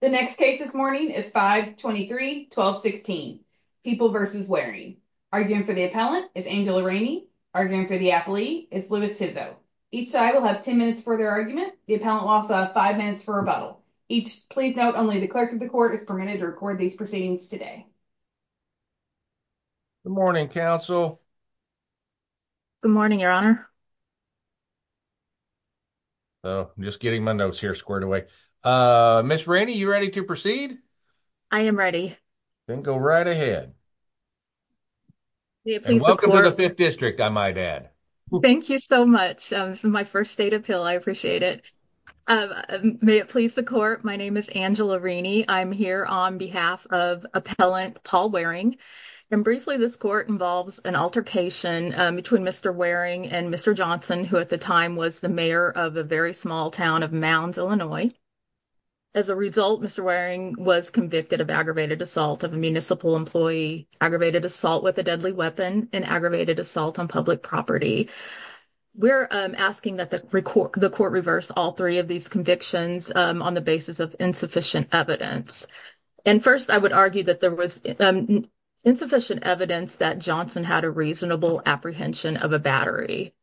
The next case this morning is 5-23-12-16, People v. Wareing. Arguing for the appellant is Angela Rainey. Arguing for the applee is Louis Hizzo. Each side will have 10 minutes for their argument. The appellant will also have 5 minutes for rebuttal. Please note only the clerk of the court is permitted to record these proceedings today. Good morning, counsel. Good morning, proceed? I am ready. Then go right ahead. Welcome to the 5th district, I might add. Thank you so much. This is my first state appeal. I appreciate it. May it please the court, my name is Angela Rainey. I'm here on behalf of appellant Paul Wareing. And briefly, this court involves an altercation between Mr. Wareing and Mr. Johnson, who at the time was the mayor of a very small town of Mounds, Illinois. As a result, Mr. Wareing was convicted of aggravated assault of a municipal employee, aggravated assault with a deadly weapon, and aggravated assault on public property. We're asking that the court reverse all three of these convictions on the basis of insufficient evidence. And first, I would argue that there was insufficient evidence that Johnson had a apprehension of a battery.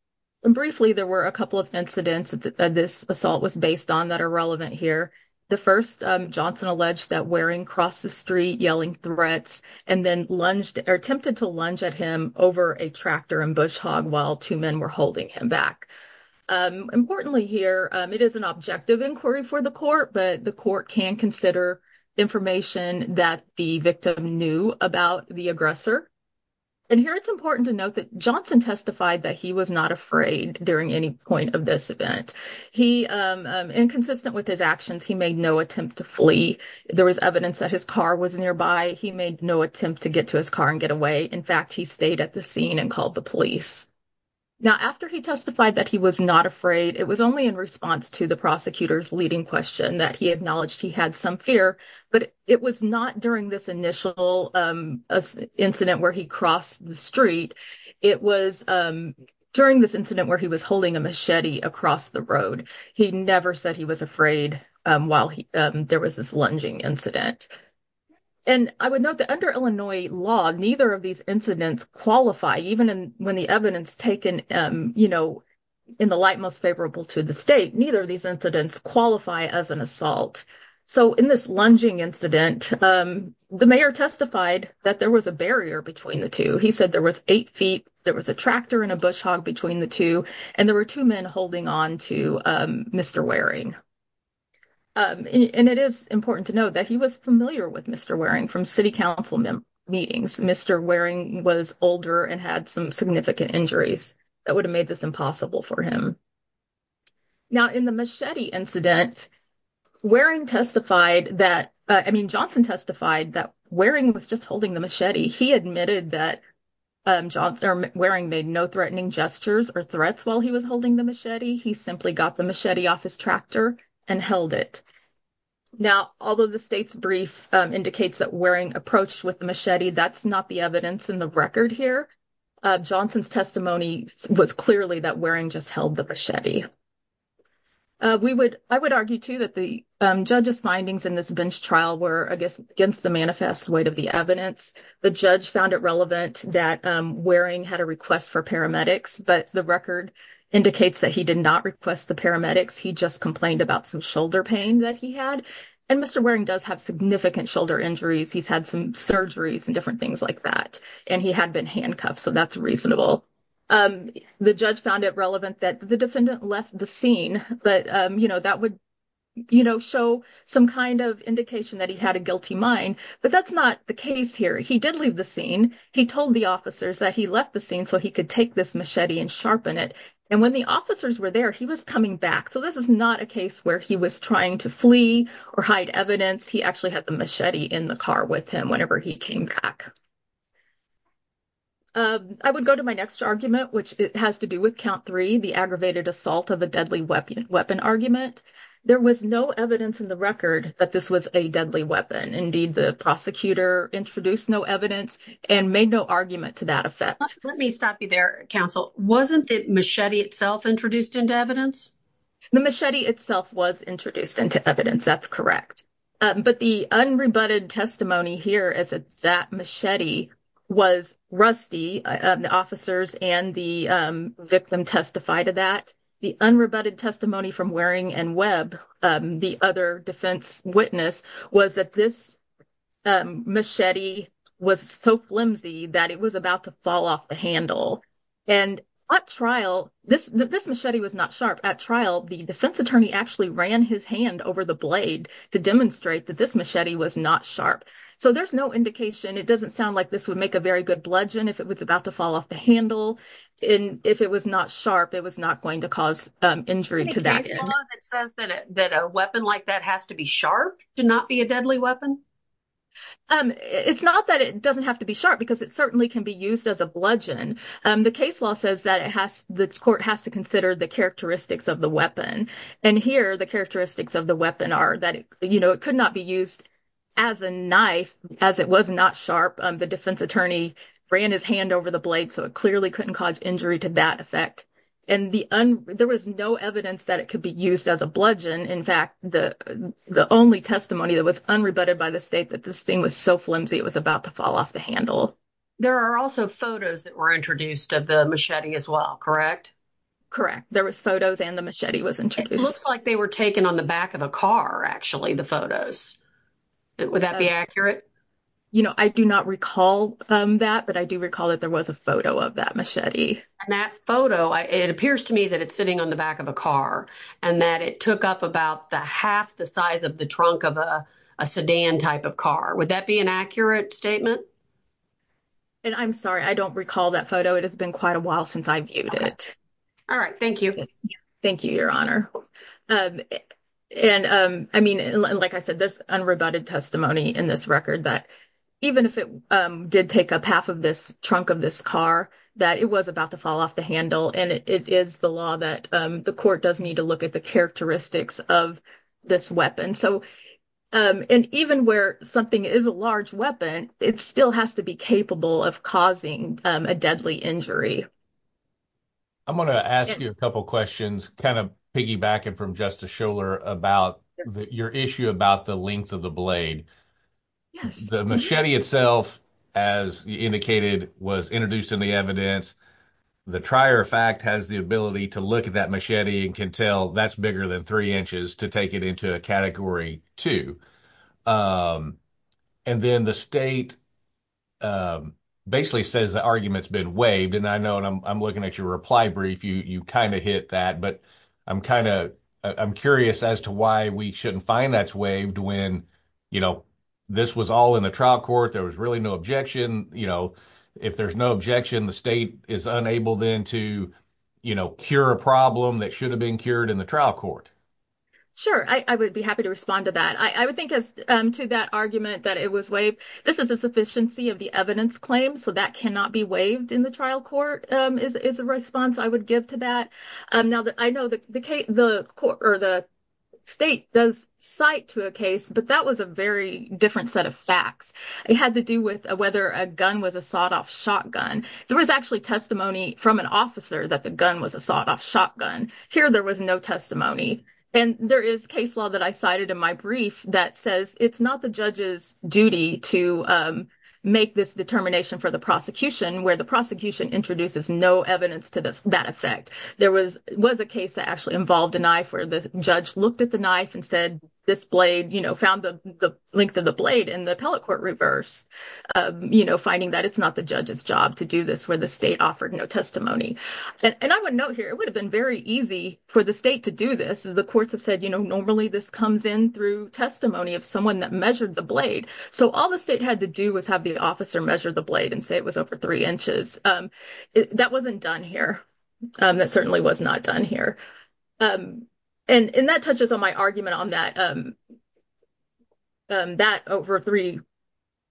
And briefly, there were a couple of incidents that this assault was based on that are relevant here. The first, Johnson alleged that Wareing crossed the street yelling threats and then lunged or attempted to lunge at him over a tractor and bush hog while two men were holding him back. Importantly here, it is an objective inquiry for the court, but the court can consider information that the victim knew about the aggressor. And here it's important to note that Johnson testified that he was not afraid during any point of this event. He, inconsistent with his actions, he made no attempt to flee. There was evidence that his car was nearby. He made no attempt to get to his car and get away. In fact, he stayed at the scene and called the police. Now, after he testified that he was not afraid, it was only in response to the prosecutor's leading question that he acknowledged he had some fear. But it was not during this initial incident where he crossed the street. It was during this incident where he was holding a machete across the road. He never said he was afraid while there was this lunging incident. And I would note that under Illinois law, neither of these incidents qualify, even when the evidence taken, you know, in the light most favorable to the state, neither of these incidents qualify as an assault. So in this lunging incident, the mayor testified that there was a barrier between the two. He said there was eight feet, there was a tractor and a bush hog between the two, and there were two men holding on to Mr. Waring. And it is important to note that he was familiar with Mr. Waring from city council meetings. Mr. Waring was older and had some significant injuries that would have made this impossible for him. Now, in the machete incident, Waring testified that, I mean, Johnson testified that Waring was just holding the machete. He admitted that Waring made no threatening gestures or threats while he was holding the machete. He simply got the machete off his tractor and held it. Now, although the state's brief indicates that Waring approached with the machete, that's not the evidence in the record here. Johnson's testimony was clearly that Waring just held the machete. I would argue too that the judge's findings in this bench trial were, I guess, against the manifest weight of the evidence. The judge found it relevant that Waring had a request for paramedics, but the record indicates that he did not request the paramedics. He just complained about some shoulder pain that he had. And Mr. Waring does have significant shoulder injuries. He's had surgeries and different things like that. And he had been handcuffed, so that's reasonable. The judge found it relevant that the defendant left the scene, but, you know, that would, you know, show some kind of indication that he had a guilty mind. But that's not the case here. He did leave the scene. He told the officers that he left the scene so he could take this machete and sharpen it. And when the officers were there, he was coming back. So this is not a case where he was trying to flee or hide evidence. He actually had the machete in the he came back. I would go to my next argument, which has to do with count three, the aggravated assault of a deadly weapon argument. There was no evidence in the record that this was a deadly weapon. Indeed, the prosecutor introduced no evidence and made no argument to that effect. Let me stop you there, counsel. Wasn't the machete itself introduced into evidence? The machete itself was introduced into evidence. That's correct. But the unrebutted testimony here is that machete was rusty. The officers and the victim testified to that. The unrebutted testimony from Waring and Webb, the other defense witness, was that this machete was so flimsy that it was about to fall off the handle. And at trial, this machete was not sharp. At trial, the defense attorney actually ran his hand over the blade to demonstrate that this machete was not sharp. So there's no indication. It doesn't sound like this would make a very good bludgeon if it was about to fall off the handle. And if it was not sharp, it was not going to cause injury to that. The case law that says that a weapon like that has to be sharp to not be a deadly weapon? It's not that it doesn't have to be sharp because it certainly can be used as a bludgeon. The case law says that it has the court has to consider the characteristics of the weapon. And here, the characteristics of the weapon are that, you know, it could not be used as a knife as it was not sharp. The defense attorney ran his hand over the blade, so it clearly couldn't cause injury to that effect. And there was no evidence that it could be used as a bludgeon. In fact, the only testimony that was unrebutted by the state that this thing was so flimsy it was about to fall off the handle. There are also photos that were introduced of the machete as well, correct? Correct. There was photos and the machete was introduced. It looks like they were taken on the back of a car, actually, the photos. Would that be accurate? You know, I do not recall that, but I do recall that there was a photo of that machete. And that photo, it appears to me that it's sitting on the back of a car and that it took up about the half the size of the trunk of a sedan type of car. Would that be an accurate statement? And I'm sorry, I don't recall that photo. It has been quite a while since I viewed it. All right. Thank you. Thank you, Your Honor. And, I mean, like I said, there's unrebutted testimony in this record that even if it did take up half of this trunk of this car, that it was about to fall off the handle. And it is the law that the court does need to look at the characteristics of this weapon. So, and even where something is a large weapon, it still has to be capable of causing a deadly injury. I'm going to ask you a couple questions, kind of piggybacking from Justice Scholar about your issue about the length of the blade. The machete itself, as you indicated, was introduced in the evidence. The trier fact has the ability to look at that machete and can tell that's bigger than three inches to take it category two. And then the state basically says the argument's been waived. And I know, and I'm looking at your reply brief, you kind of hit that, but I'm curious as to why we shouldn't find that's waived when this was all in the trial court, there was really no objection. If there's no objection, the state is unable then to cure a problem that should have been in the trial court. Sure. I would be happy to respond to that. I would think as to that argument that it was waived. This is a sufficiency of the evidence claim. So that cannot be waived in the trial court is a response I would give to that. Now that I know that the state does cite to a case, but that was a very different set of facts. It had to do with whether a gun was a sawed off shotgun. There was actually testimony from an officer that the gun was a sawed off shotgun. Here there was no testimony. And there is case law that I cited in my brief that says it's not the judge's duty to make this determination for the prosecution where the prosecution introduces no evidence to that effect. There was a case that actually involved a knife where the judge looked at the knife and said, this blade, you know, found the length of the blade in the appellate court reverse, you know, finding that it's not the judge's job to do this where the state offered no testimony. And I would note here, it would have been very easy for the state to do this. The courts have said, you know, normally this comes in through testimony of someone that measured the blade. So all the state had to do was have the officer measure the blade and say it was over three inches. That wasn't done here. That certainly was not done here. And that touches on my argument on that, that over three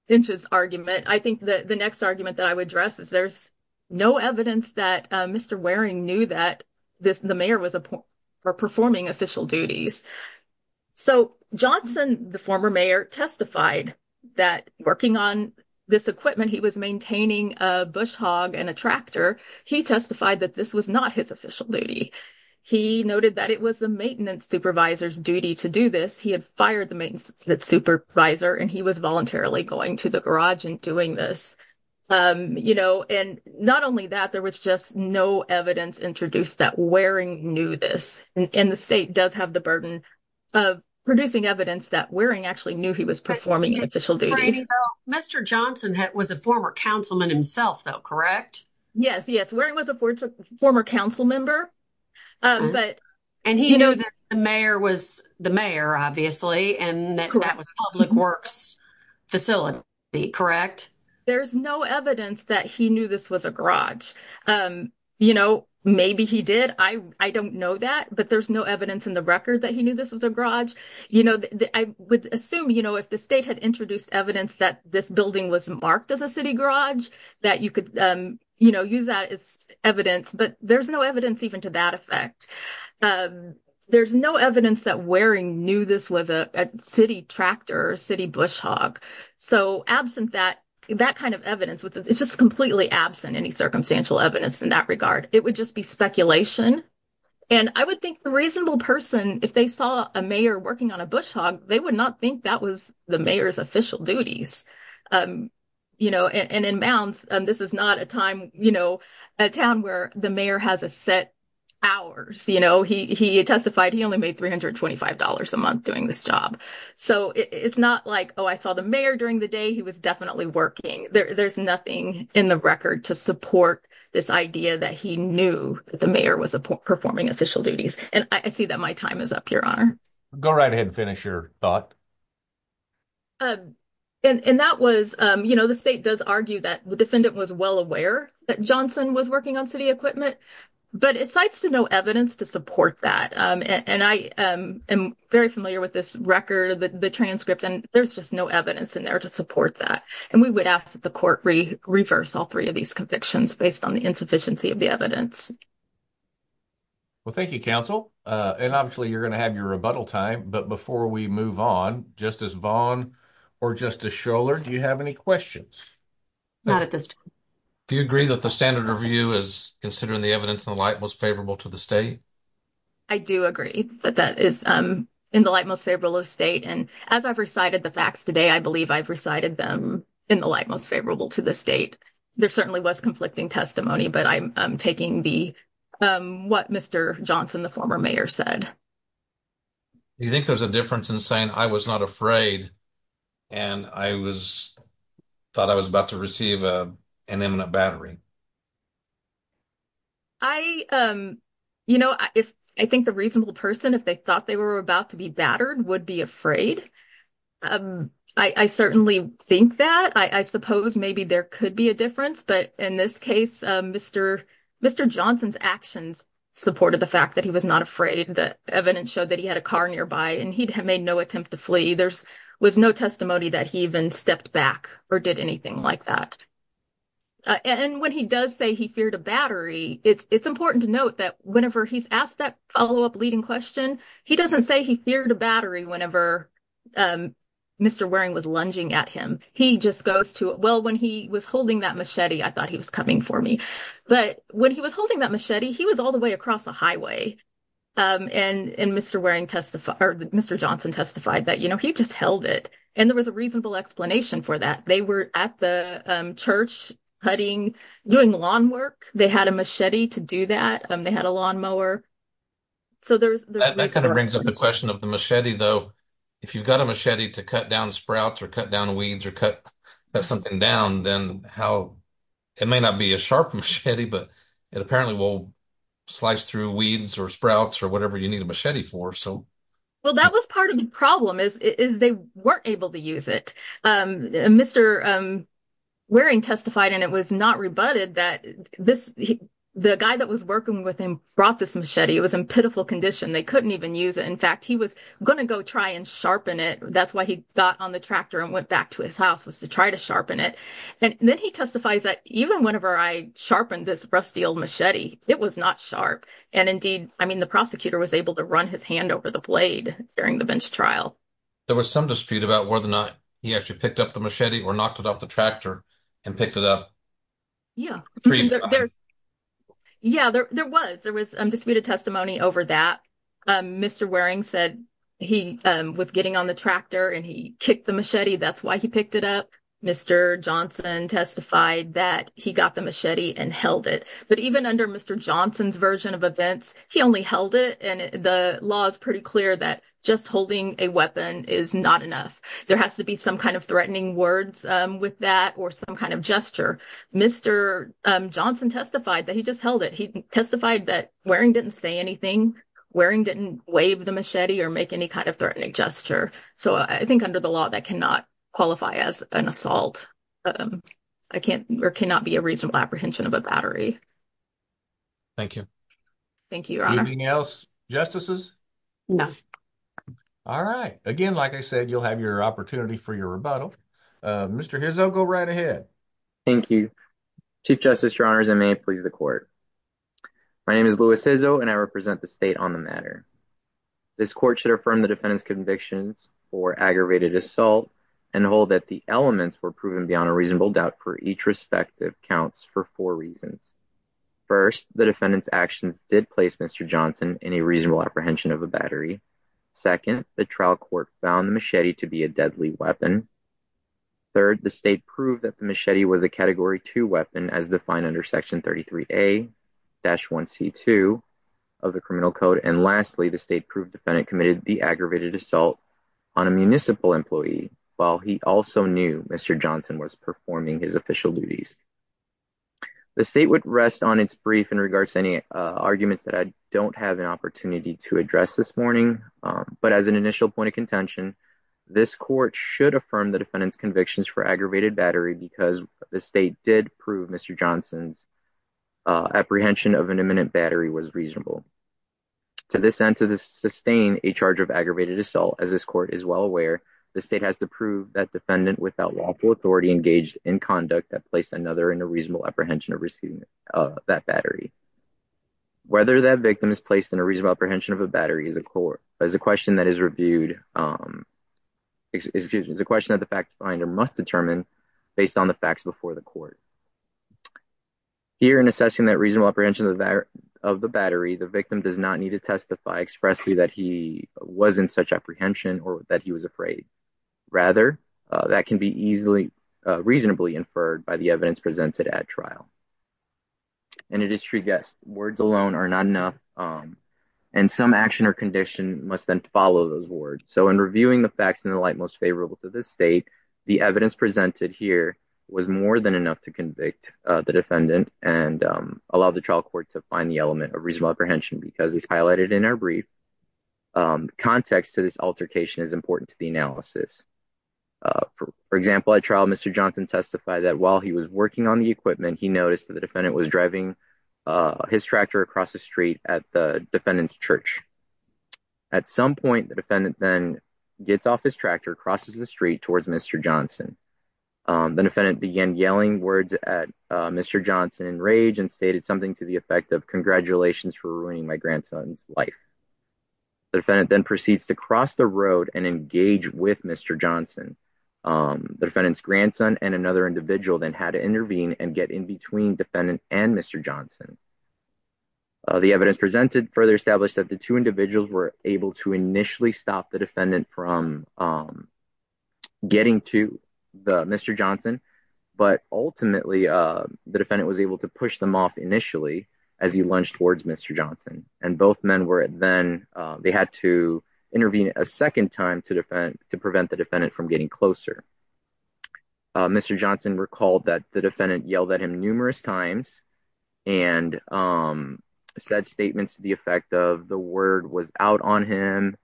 inches argument. I think that the no evidence that Mr. Waring knew that the mayor was performing official duties. So Johnson, the former mayor, testified that working on this equipment, he was maintaining a bush hog and a tractor. He testified that this was not his official duty. He noted that it was the maintenance supervisor's duty to do this. He had fired the maintenance supervisor and he was going to the garage and doing this, you know. And not only that, there was just no evidence introduced that Waring knew this. And the state does have the burden of producing evidence that Waring actually knew he was performing an official duty. Mr. Johnson was a former councilman himself though, correct? Yes, yes. Waring was a former council member. And he knew that the mayor was the mayor, obviously, and that was public works facility, correct? There's no evidence that he knew this was a garage. You know, maybe he did. I don't know that, but there's no evidence in the record that he knew this was a garage. You know, I would assume, you know, if the state had introduced evidence that this building was marked as a city garage, that you could, you know, use as evidence, but there's no evidence even to that effect. There's no evidence that Waring knew this was a city tractor, city bush hog. So absent that, that kind of evidence, it's just completely absent any circumstantial evidence in that regard. It would just be speculation. And I would think the reasonable person, if they saw a mayor working on a bush hog, they would not think that was the mayor's official duties. You know, and in bounds, this is not a time, you know, a town where the mayor has a set hours, you know, he testified he only made $325 a month doing this job. So it's not like, oh, I saw the mayor during the day, he was definitely working. There's nothing in the record to support this idea that he knew that the mayor was performing official duties. And I see that my time is up, Your Honor. Go right ahead and finish your thought. And that was, you know, the state does argue that the defendant was well aware that Johnson was working on city equipment, but it cites to no evidence to support that. And I am very familiar with this record, the transcript, and there's just no evidence in there to support that. And we would ask that the court reverse all three of these convictions based on the insufficiency of the evidence. Well, thank you, counsel. And obviously, you're going to have your rebuttal time. But before we move on, Justice Vaughn or Justice Schoeller, do you have any questions? Not at this time. Do you agree that the standard review is considering the evidence in the light most favorable to the state? I do agree that that is in the light most favorable of state. And as I've recited the facts today, I believe I've recited them in the light most favorable to the state. There certainly was conflicting testimony, but I'm taking what Mr. Johnson, the former mayor, said. Do you think there's a difference in saying I was not afraid and I thought I was about to receive an imminent battery? I, you know, I think the reasonable person, if they thought they were about to be battered, would be afraid. I certainly think that. I suppose maybe there could be a difference. But in this case, Mr. Johnson's actions supported the fact that he was not afraid. The evidence showed that he had a car nearby and he'd made no attempt to flee. There was no testimony that he even stepped back or did anything like that. And when he does say he feared a battery, it's important to note that whenever he's asked that follow-up leading question, he doesn't say he feared a battery whenever Mr. Waring was lunging at him. He just goes to, well, when he was holding that machete, I thought he was coming for me. But when he was holding that machete, he was all the way across the highway. And Mr. Johnson testified that, you know, he just held it. And there was a reasonable explanation for that. They were at the church doing lawn work. They had a machete to do that. They had a lawnmower. That kind of brings up the question of the machete, though. If you've got a machete to cut down sprouts or cut down weeds or cut something down, then it may not be a sharp machete, but it apparently will slice through weeds or sprouts or whatever you need a machete for. Well, that was part of the problem is they weren't able to use it. Mr. Waring testified, and it was not rebutted, that the guy that was working with him brought this machete. It was in pitiful condition. They couldn't even use it. In fact, he was going to go try and sharpen it. That's why he got on the tractor and went back to his house, was to try to sharpen it. And then he testifies that even whenever I sharpened this rusty old machete, it was not sharp. And indeed, I mean, the prosecutor was able to run his hand over the blade during the bench trial. There was some dispute about whether or not he actually picked up the machete or knocked it off the tractor and picked it up. Yeah. Yeah, there was. There was disputed testimony over that. Mr. Waring said he was getting on the tractor and he kicked the machete. That's why he picked it up. Mr. Johnson testified that he got the machete and held it. But even under Mr. Johnson's version of events, he only held it. And the law is pretty clear that just holding a weapon is not enough. There has to be some kind of threatening words with that or some kind of gesture. Mr. Johnson testified that he just held it. He testified that Waring didn't say anything. Waring didn't wave the machete or make any kind of threatening gesture. So I think under the law, that cannot qualify as an assault. There cannot be a reasonable apprehension of a battery. Thank you. Thank you, Your Honor. Anything else, Justices? No. All right. Again, like I said, you'll have your opportunity for your rebuttal. Mr. Hizzo, go right ahead. Thank you. Chief Justice, Your Honors, I may please the court. My name is Louis Hizzo, and I represent the state on the matter. This court should affirm the aggravated assault and hold that the elements were proven beyond a reasonable doubt for each respective counts for four reasons. First, the defendant's actions did place Mr. Johnson in a reasonable apprehension of a battery. Second, the trial court found the machete to be a deadly weapon. Third, the state proved that the machete was a Category 2 weapon as defined under Section 33A-1C2 of the criminal code. And lastly, the state proved defendant committed the aggravated assault on a municipal employee while he also knew Mr. Johnson was performing his official duties. The state would rest on its brief in regards to any arguments that I don't have an opportunity to address this morning, but as an initial point of contention, this court should affirm the defendant's convictions for aggravated battery because the state did prove Mr. Johnson's apprehension of an imminent battery was reasonable. To this end, to sustain a charge of aggravated assault, as this court is well aware, the state has to prove that defendant without lawful authority engaged in conduct that placed another in a reasonable apprehension of receiving that battery. Whether that victim is placed in a reasonable apprehension of a battery is a question that is reviewed, excuse me, is a question that the fact finder must determine based on the facts before the court. Here in assessing that reasonable apprehension of the battery, the victim does not need to testify expressly that he was in such apprehension or that he was afraid. Rather, that can be easily reasonably inferred by the evidence presented at trial. And it is true, yes, words alone are not enough and some action or condition must then follow those words. So in reviewing the facts in the light most favorable to this state, the evidence presented here was more than enough to convict the defendant and allow the trial court to find the element of reasonable apprehension because as highlighted in our brief, context to this altercation is important to the analysis. For example, at trial, Mr. Johnson testified that while he was working on the equipment, he noticed that the defendant was driving his tractor across the street at the defendant's church. At some point, the defendant then gets off his tractor, crosses the street towards Mr. Johnson. The defendant began yelling words at Mr. Johnson in rage and stated something to the effect of congratulations for ruining my grandson's life. The defendant then proceeds to cross the road and engage with Mr. Johnson. The defendant's grandson and another individual then had to intervene and get in between defendant and Mr. Johnson. The evidence presented further established that the two individuals were able to initially stop the defendant from getting to Mr. Johnson, but ultimately the defendant was able to push them off initially as he lunged towards Mr. Johnson and both men were then they had to intervene a second time to prevent the defendant from getting closer. Mr. Johnson recalled that the defendant yelled at him numerous times and said statements to the effect of the word was out on him.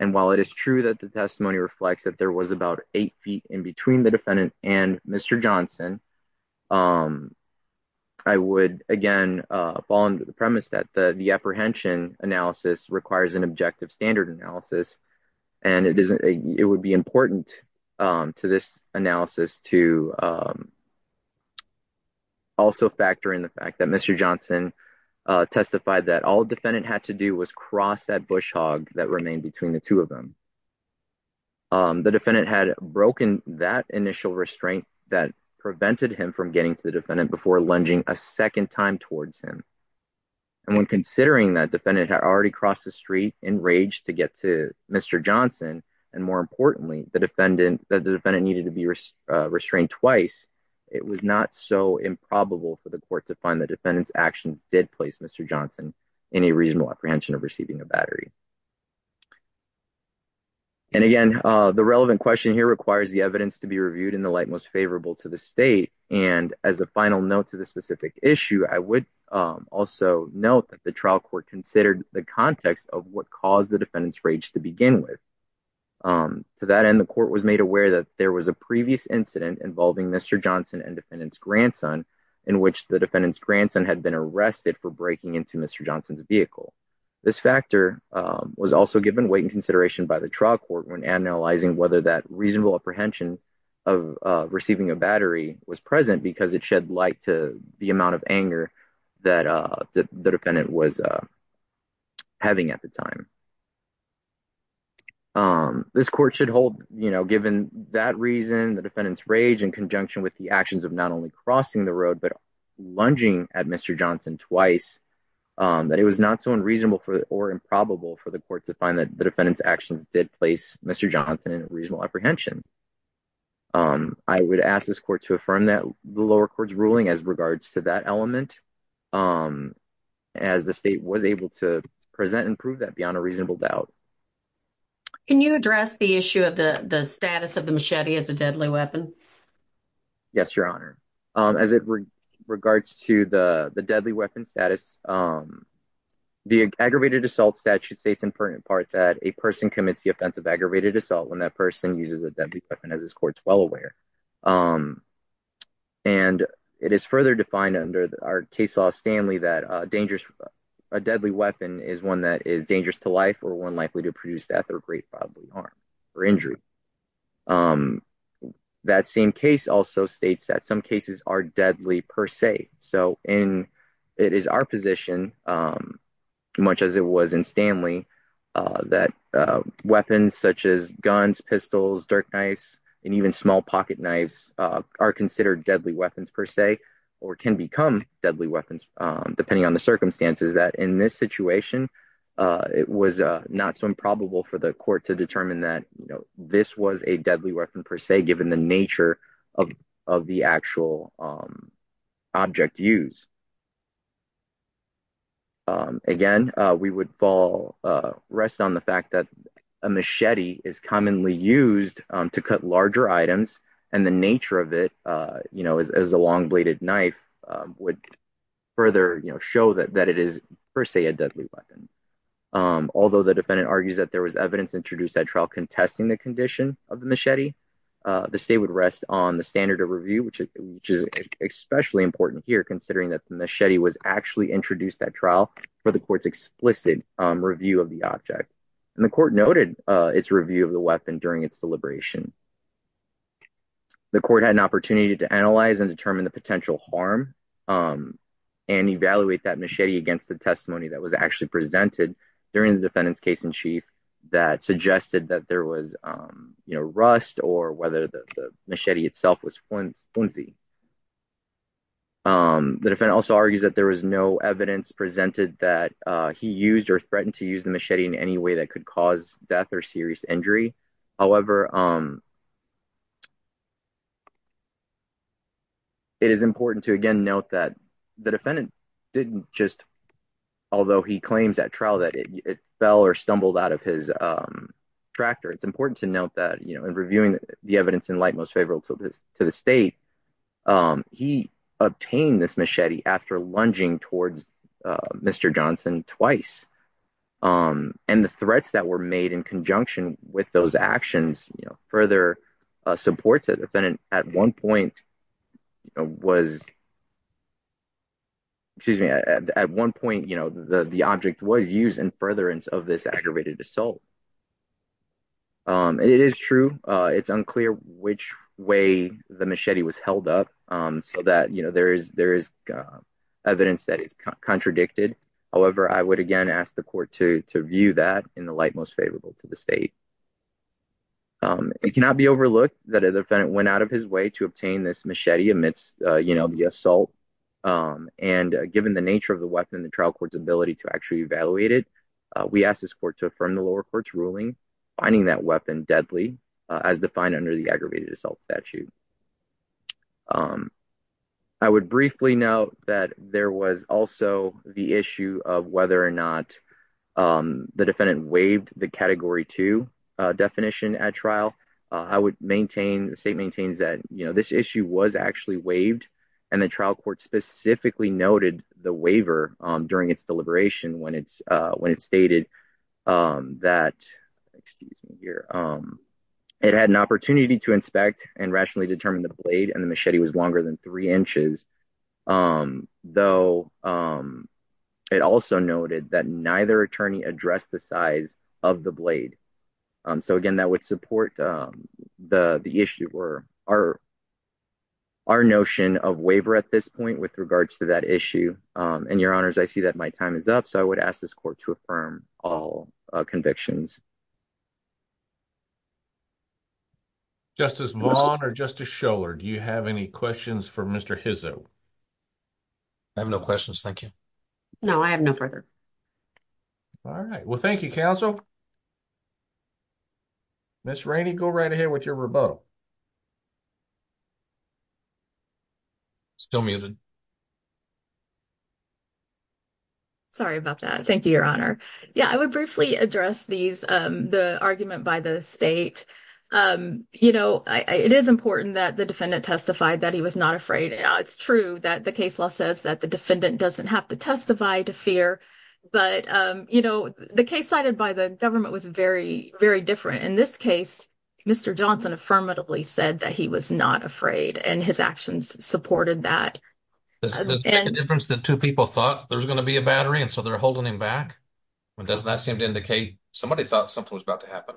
And while it is true that the testimony reflects that there was about eight feet in between the defendant and Mr. Johnson, I would again fall into the premise that the apprehension analysis requires an objective standard analysis and it would be important to this analysis to also factor in the fact that Mr. Johnson testified that all defendant had to do was cross that bush hog that remained between the two of them. The defendant had broken that initial restraint that prevented him from getting to the defendant before lunging a second time towards him. And when considering that defendant had already crossed the street in rage to get to Mr. Johnson and more importantly the defendant that the defendant needed to be restrained twice, it was not so improbable for the court to find the defendant's actions did place Mr. Johnson in a reasonable apprehension of receiving a battery. And again, the relevant question here requires the evidence to be reviewed in the light most favorable to the state and as a final note to the specific issue, I would also note that the trial court considered the context of what caused the defendant's rage to begin with. To that end, the court was made aware that there was a previous incident involving Mr. Johnson and defendant's grandson in which the defendant's grandson had been arrested for breaking into Mr. Johnson's vehicle. This factor was also given weight and consideration by the trial court when analyzing whether that reasonable apprehension of receiving a battery was present because it shed light to the amount of anger that the defendant was having at the time. This court should hold, you know, given that reason the defendant's rage in conjunction with the actions of not only crossing the road but lunging at Mr. Johnson twice, that it was not so unreasonable for or improbable for the court to find that the defendant's actions did place Mr. Johnson in reasonable apprehension. I would ask this court to affirm that the lower court's ruling as regards to that element as the state was able to present and prove that beyond a reasonable doubt. Can you address the issue of the the status of the machete as a deadly weapon? Yes, your honor. As it regards to the the deadly weapon status, the aggravated assault statute states in part that a person commits the offense of aggravated assault when that person uses a deadly weapon as this court's well aware. And it is further defined under our case law Stanley that a dangerous a deadly weapon is one that is dangerous to life or one likely to produce death or great probably harm or injury. That same case also states that some cases are deadly per se. So in it is our position, much as it was in Stanley, that weapons such as guns, pistols, dirt knives, and even small pocket knives are considered deadly weapons per se or can become deadly weapons depending on the circumstances that in this situation it was not so improbable for the court to determine that you know this was a deadly weapon per se given the nature of the actual object used. Again, we would fall rest on the fact that a machete is commonly used to cut larger items and the nature of it you know as a long bladed knife would further you know show that that it is per se a deadly weapon. Although the defendant argues that there was evidence introduced at contesting the condition of the machete, the state would rest on the standard of review which is especially important here considering that the machete was actually introduced that trial for the court's explicit review of the object. And the court noted its review of the weapon during its deliberation. The court had an opportunity to analyze and determine the potential harm and evaluate that machete against the testimony that was actually presented during the defendant's case-in-chief that suggested that there was you know rust or whether the machete itself was flimsy. The defendant also argues that there was no evidence presented that he used or threatened to use the machete in any way that could cause death or serious injury. However, it is important to again note that the defendant didn't just although he claims at trial that it fell or stumbled out of his tractor it's important to note that you know in reviewing the evidence in light most favorable to this to the state he obtained this machete after lunging towards Mr. Johnson twice. And the threats that were made in conjunction with those actions you know further supports the defendant at one point you know was excuse me at one point you know the the object was used in furtherance of this aggravated assault. It is true it's unclear which way the machete was held up so that you know there is there is evidence that is contradicted. However, I would again ask the court to to view that in the light most favorable to the state. It cannot be overlooked that a defendant went out of his way to obtain this machete amidst you know the assault and given the nature of the weapon the trial court's ability to actually evaluate it we ask this court to affirm the lower court's ruling finding that weapon deadly as defined under the aggravated assault statute. I would briefly note that there was also the issue of whether or not the defendant waived the category two definition at trial. I would maintain the state maintains that you know this issue was actually waived and the trial court specifically noted the waiver during its deliberation when it's when it stated that excuse me here it had an opportunity to inspect and rationally determine the blade and the machete was longer than three inches. Though it also noted that neither attorney addressed the size of the blade so again that would support the the issue or our our notion of waiver at this point with regards to that issue and your honors I see that my time is up so I would ask this court to affirm all convictions. Justice Vaughn or Justice Schoeller do you have any questions for Mr. Hizzo? I have no questions thank you. No I have no further. All right well thank you counsel. Ms. Rainey go right ahead with your rebuttal. Still muted. Sorry about that. Thank you your honor. Yeah I would briefly address these the argument by the state. You know it is important that the defendant testified that he was not afraid. It's true that the case law says that the defendant doesn't have to testify to fear but you know the case cited by the government was very very different. In this case Mr. Johnson affirmatively said that he was not afraid and his actions supported that. Is there a difference that two people thought there's going to be a battery and so they're holding him back? Does that seem to indicate somebody thought something was about to happen?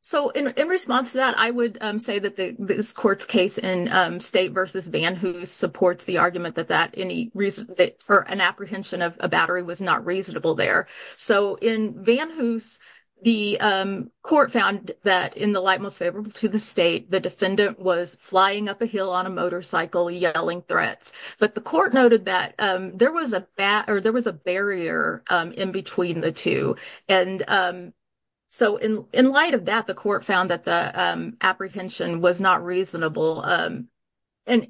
So in response to that I would say that this court's case in State v. Van Hoose supports the argument that that any reason that for an apprehension of a battery was not reasonable there. So in Van Hoose the court found that in the light most to the state the defendant was flying up a hill on a motorcycle yelling threats. But the court noted that there was a barrier in between the two and so in light of that the court found that the apprehension was not reasonable. And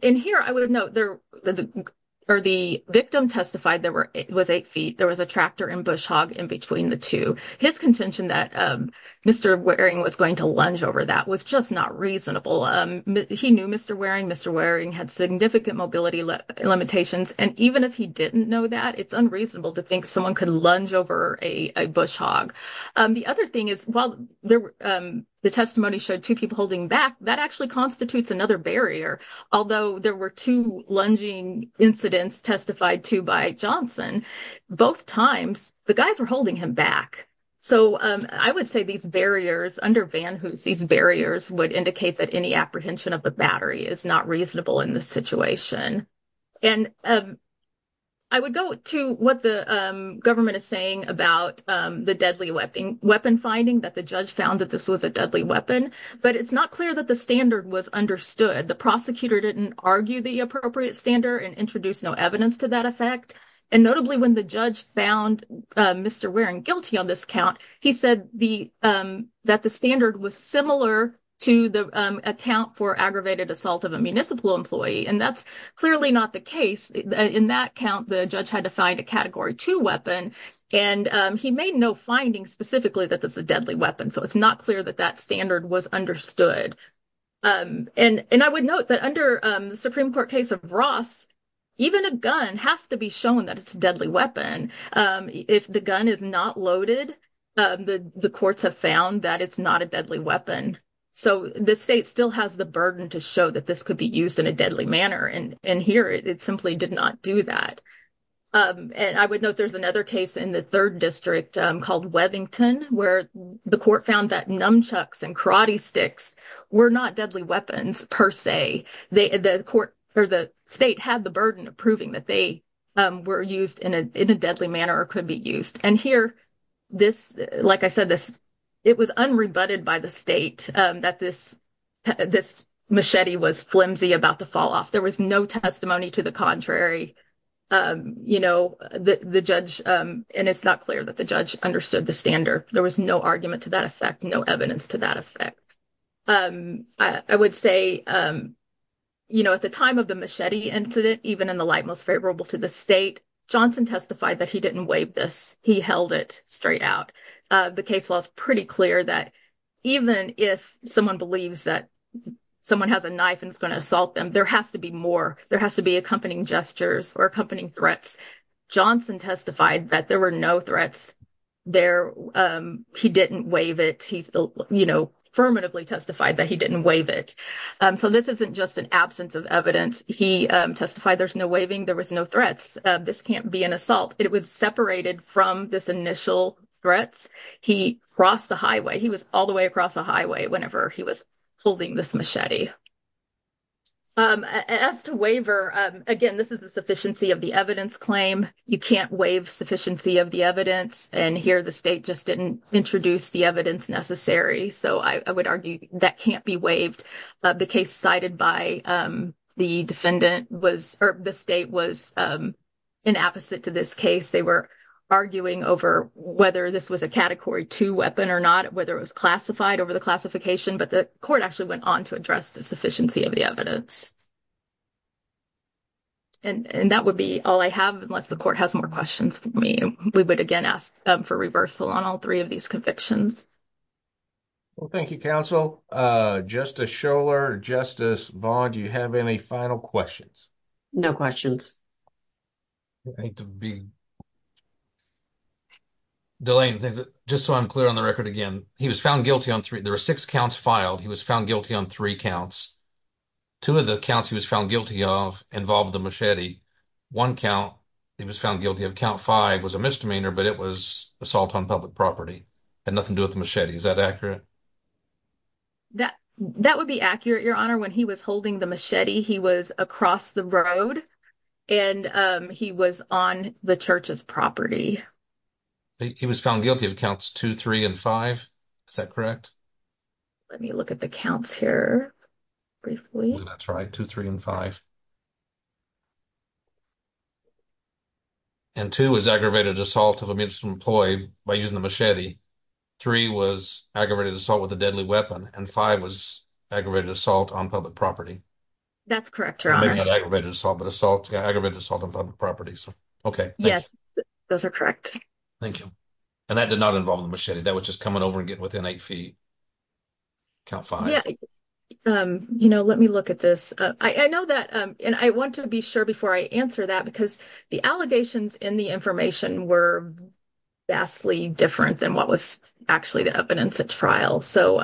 here I would note there or the victim testified there were it was eight feet there was a tractor and bush hog in between the two. His contention that Mr. Waring was going to lunge over that was just not reasonable. He knew Mr. Waring. Mr. Waring had significant mobility limitations and even if he didn't know that it's unreasonable to think someone could lunge over a bush hog. The other thing is while the testimony showed two people holding back that actually constitutes another barrier although there were two lunging incidents testified to by Johnson both times the guys were holding him back. So I would say these barriers under Van Hoose these barriers would indicate that any apprehension of the battery is not reasonable in this situation. And I would go to what the government is saying about the deadly weapon finding that the judge found that this was a deadly weapon but it's not clear that the standard was understood. The prosecutor didn't argue the appropriate standard and introduce no evidence to that effect and notably when the judge found Mr. Waring guilty on this count he said that the standard was similar to the account for aggravated assault of a municipal employee and that's clearly not the case. In that count the judge had to find a category two weapon and he made no findings specifically that this is a deadly weapon so it's not clear that that standard was understood. And I would note that under the Supreme Court case of Ross even a gun has to be shown that it's a deadly weapon. If the gun is not loaded the courts have found that it's not a deadly weapon so the state still has the burden to show that this could be used in a deadly manner and here it simply did not do that. And I would note there's another case in the third district called Webbington where the court found that nunchucks and karate sticks were not deadly weapons per se. The court or the state had the burden of proving that they were used in a deadly manner or could be used and here this like I said this it was unrebutted by the state that this machete was flimsy about to fall off. There was no testimony to the contrary you know the judge and it's not clear that the judge understood the there was no argument to that effect no evidence to that effect. I would say you know at the time of the machete incident even in the light most favorable to the state Johnson testified that he didn't wave this he held it straight out. The case law is pretty clear that even if someone believes that someone has a knife and is going to assault them there has to be more there has to be he didn't wave it he's you know affirmatively testified that he didn't wave it. So this isn't just an absence of evidence he testified there's no waving there was no threats this can't be an assault it was separated from this initial threats he crossed the highway he was all the way across the highway whenever he was holding this machete. As to waiver again this is a sufficiency of the evidence and here the state just didn't introduce the evidence necessary so I would argue that can't be waived the case cited by the defendant was or the state was in opposite to this case they were arguing over whether this was a category two weapon or not whether it was classified over the classification but the court actually went on to address the sufficiency of the evidence. And that would be all I have unless the court has more questions for me we would again ask for reversal on all three of these convictions. Well thank you counsel. Justice Schoeller, Justice Vaughn do you have any final questions? No questions. Delane just so I'm clear on the record again he was found guilty on three there are six counts filed he was found guilty on three counts. Two of the counts he was found guilty of involved the misdemeanor but it was assault on public property had nothing to do with the machete is that accurate? That that would be accurate your honor when he was holding the machete he was across the road and he was on the church's property. He was found guilty of counts two three and five is that correct? Let me look at the counts here briefly. That's right two three and five and two was aggravated assault of a municipal employee by using the machete three was aggravated assault with a deadly weapon and five was aggravated assault on public property. That's correct your honor. Aggravated assault but assault yeah aggravated assault on public property so okay. Yes those are correct. Thank you and that did not involve the machete that was just coming over and getting within eight feet count five. Yeah you know let me look at this I know that and I want to be sure before I answer that because the allegations in the information were vastly different than what was actually the evidence at trial so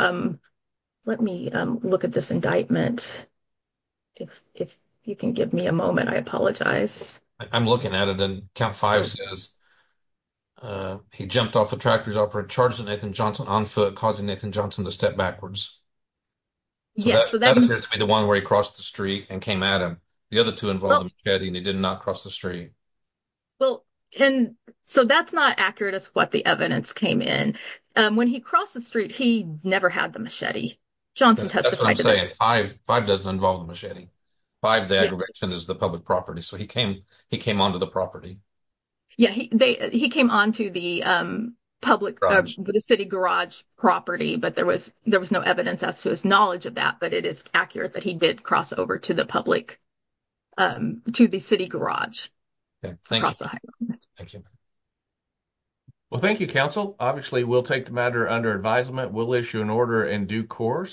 let me look at this indictment if if you can give me a moment I apologize. I'm looking at it and count five says uh he jumped off the tractor's operator charged Nathan Johnson on foot causing Nathan Johnson to step backwards. Yes so that appears to be the one where he crossed the street and came at him. The other two involved the machete and he did not cross the street. Well and so that's not accurate as what the evidence came in. When he crossed the street he never had the machete. Johnson testified to this. Five doesn't involve the machete. Five the aggravation is the public property so he came on to the property. Yeah he they he came on to the um public the city garage property but there was there was no evidence as to his knowledge of that but it is accurate that he did cross over to the public um to the city garage. Thank you. Well thank you counsel. Obviously we'll take the matter under advisement. We'll issue an order in due course.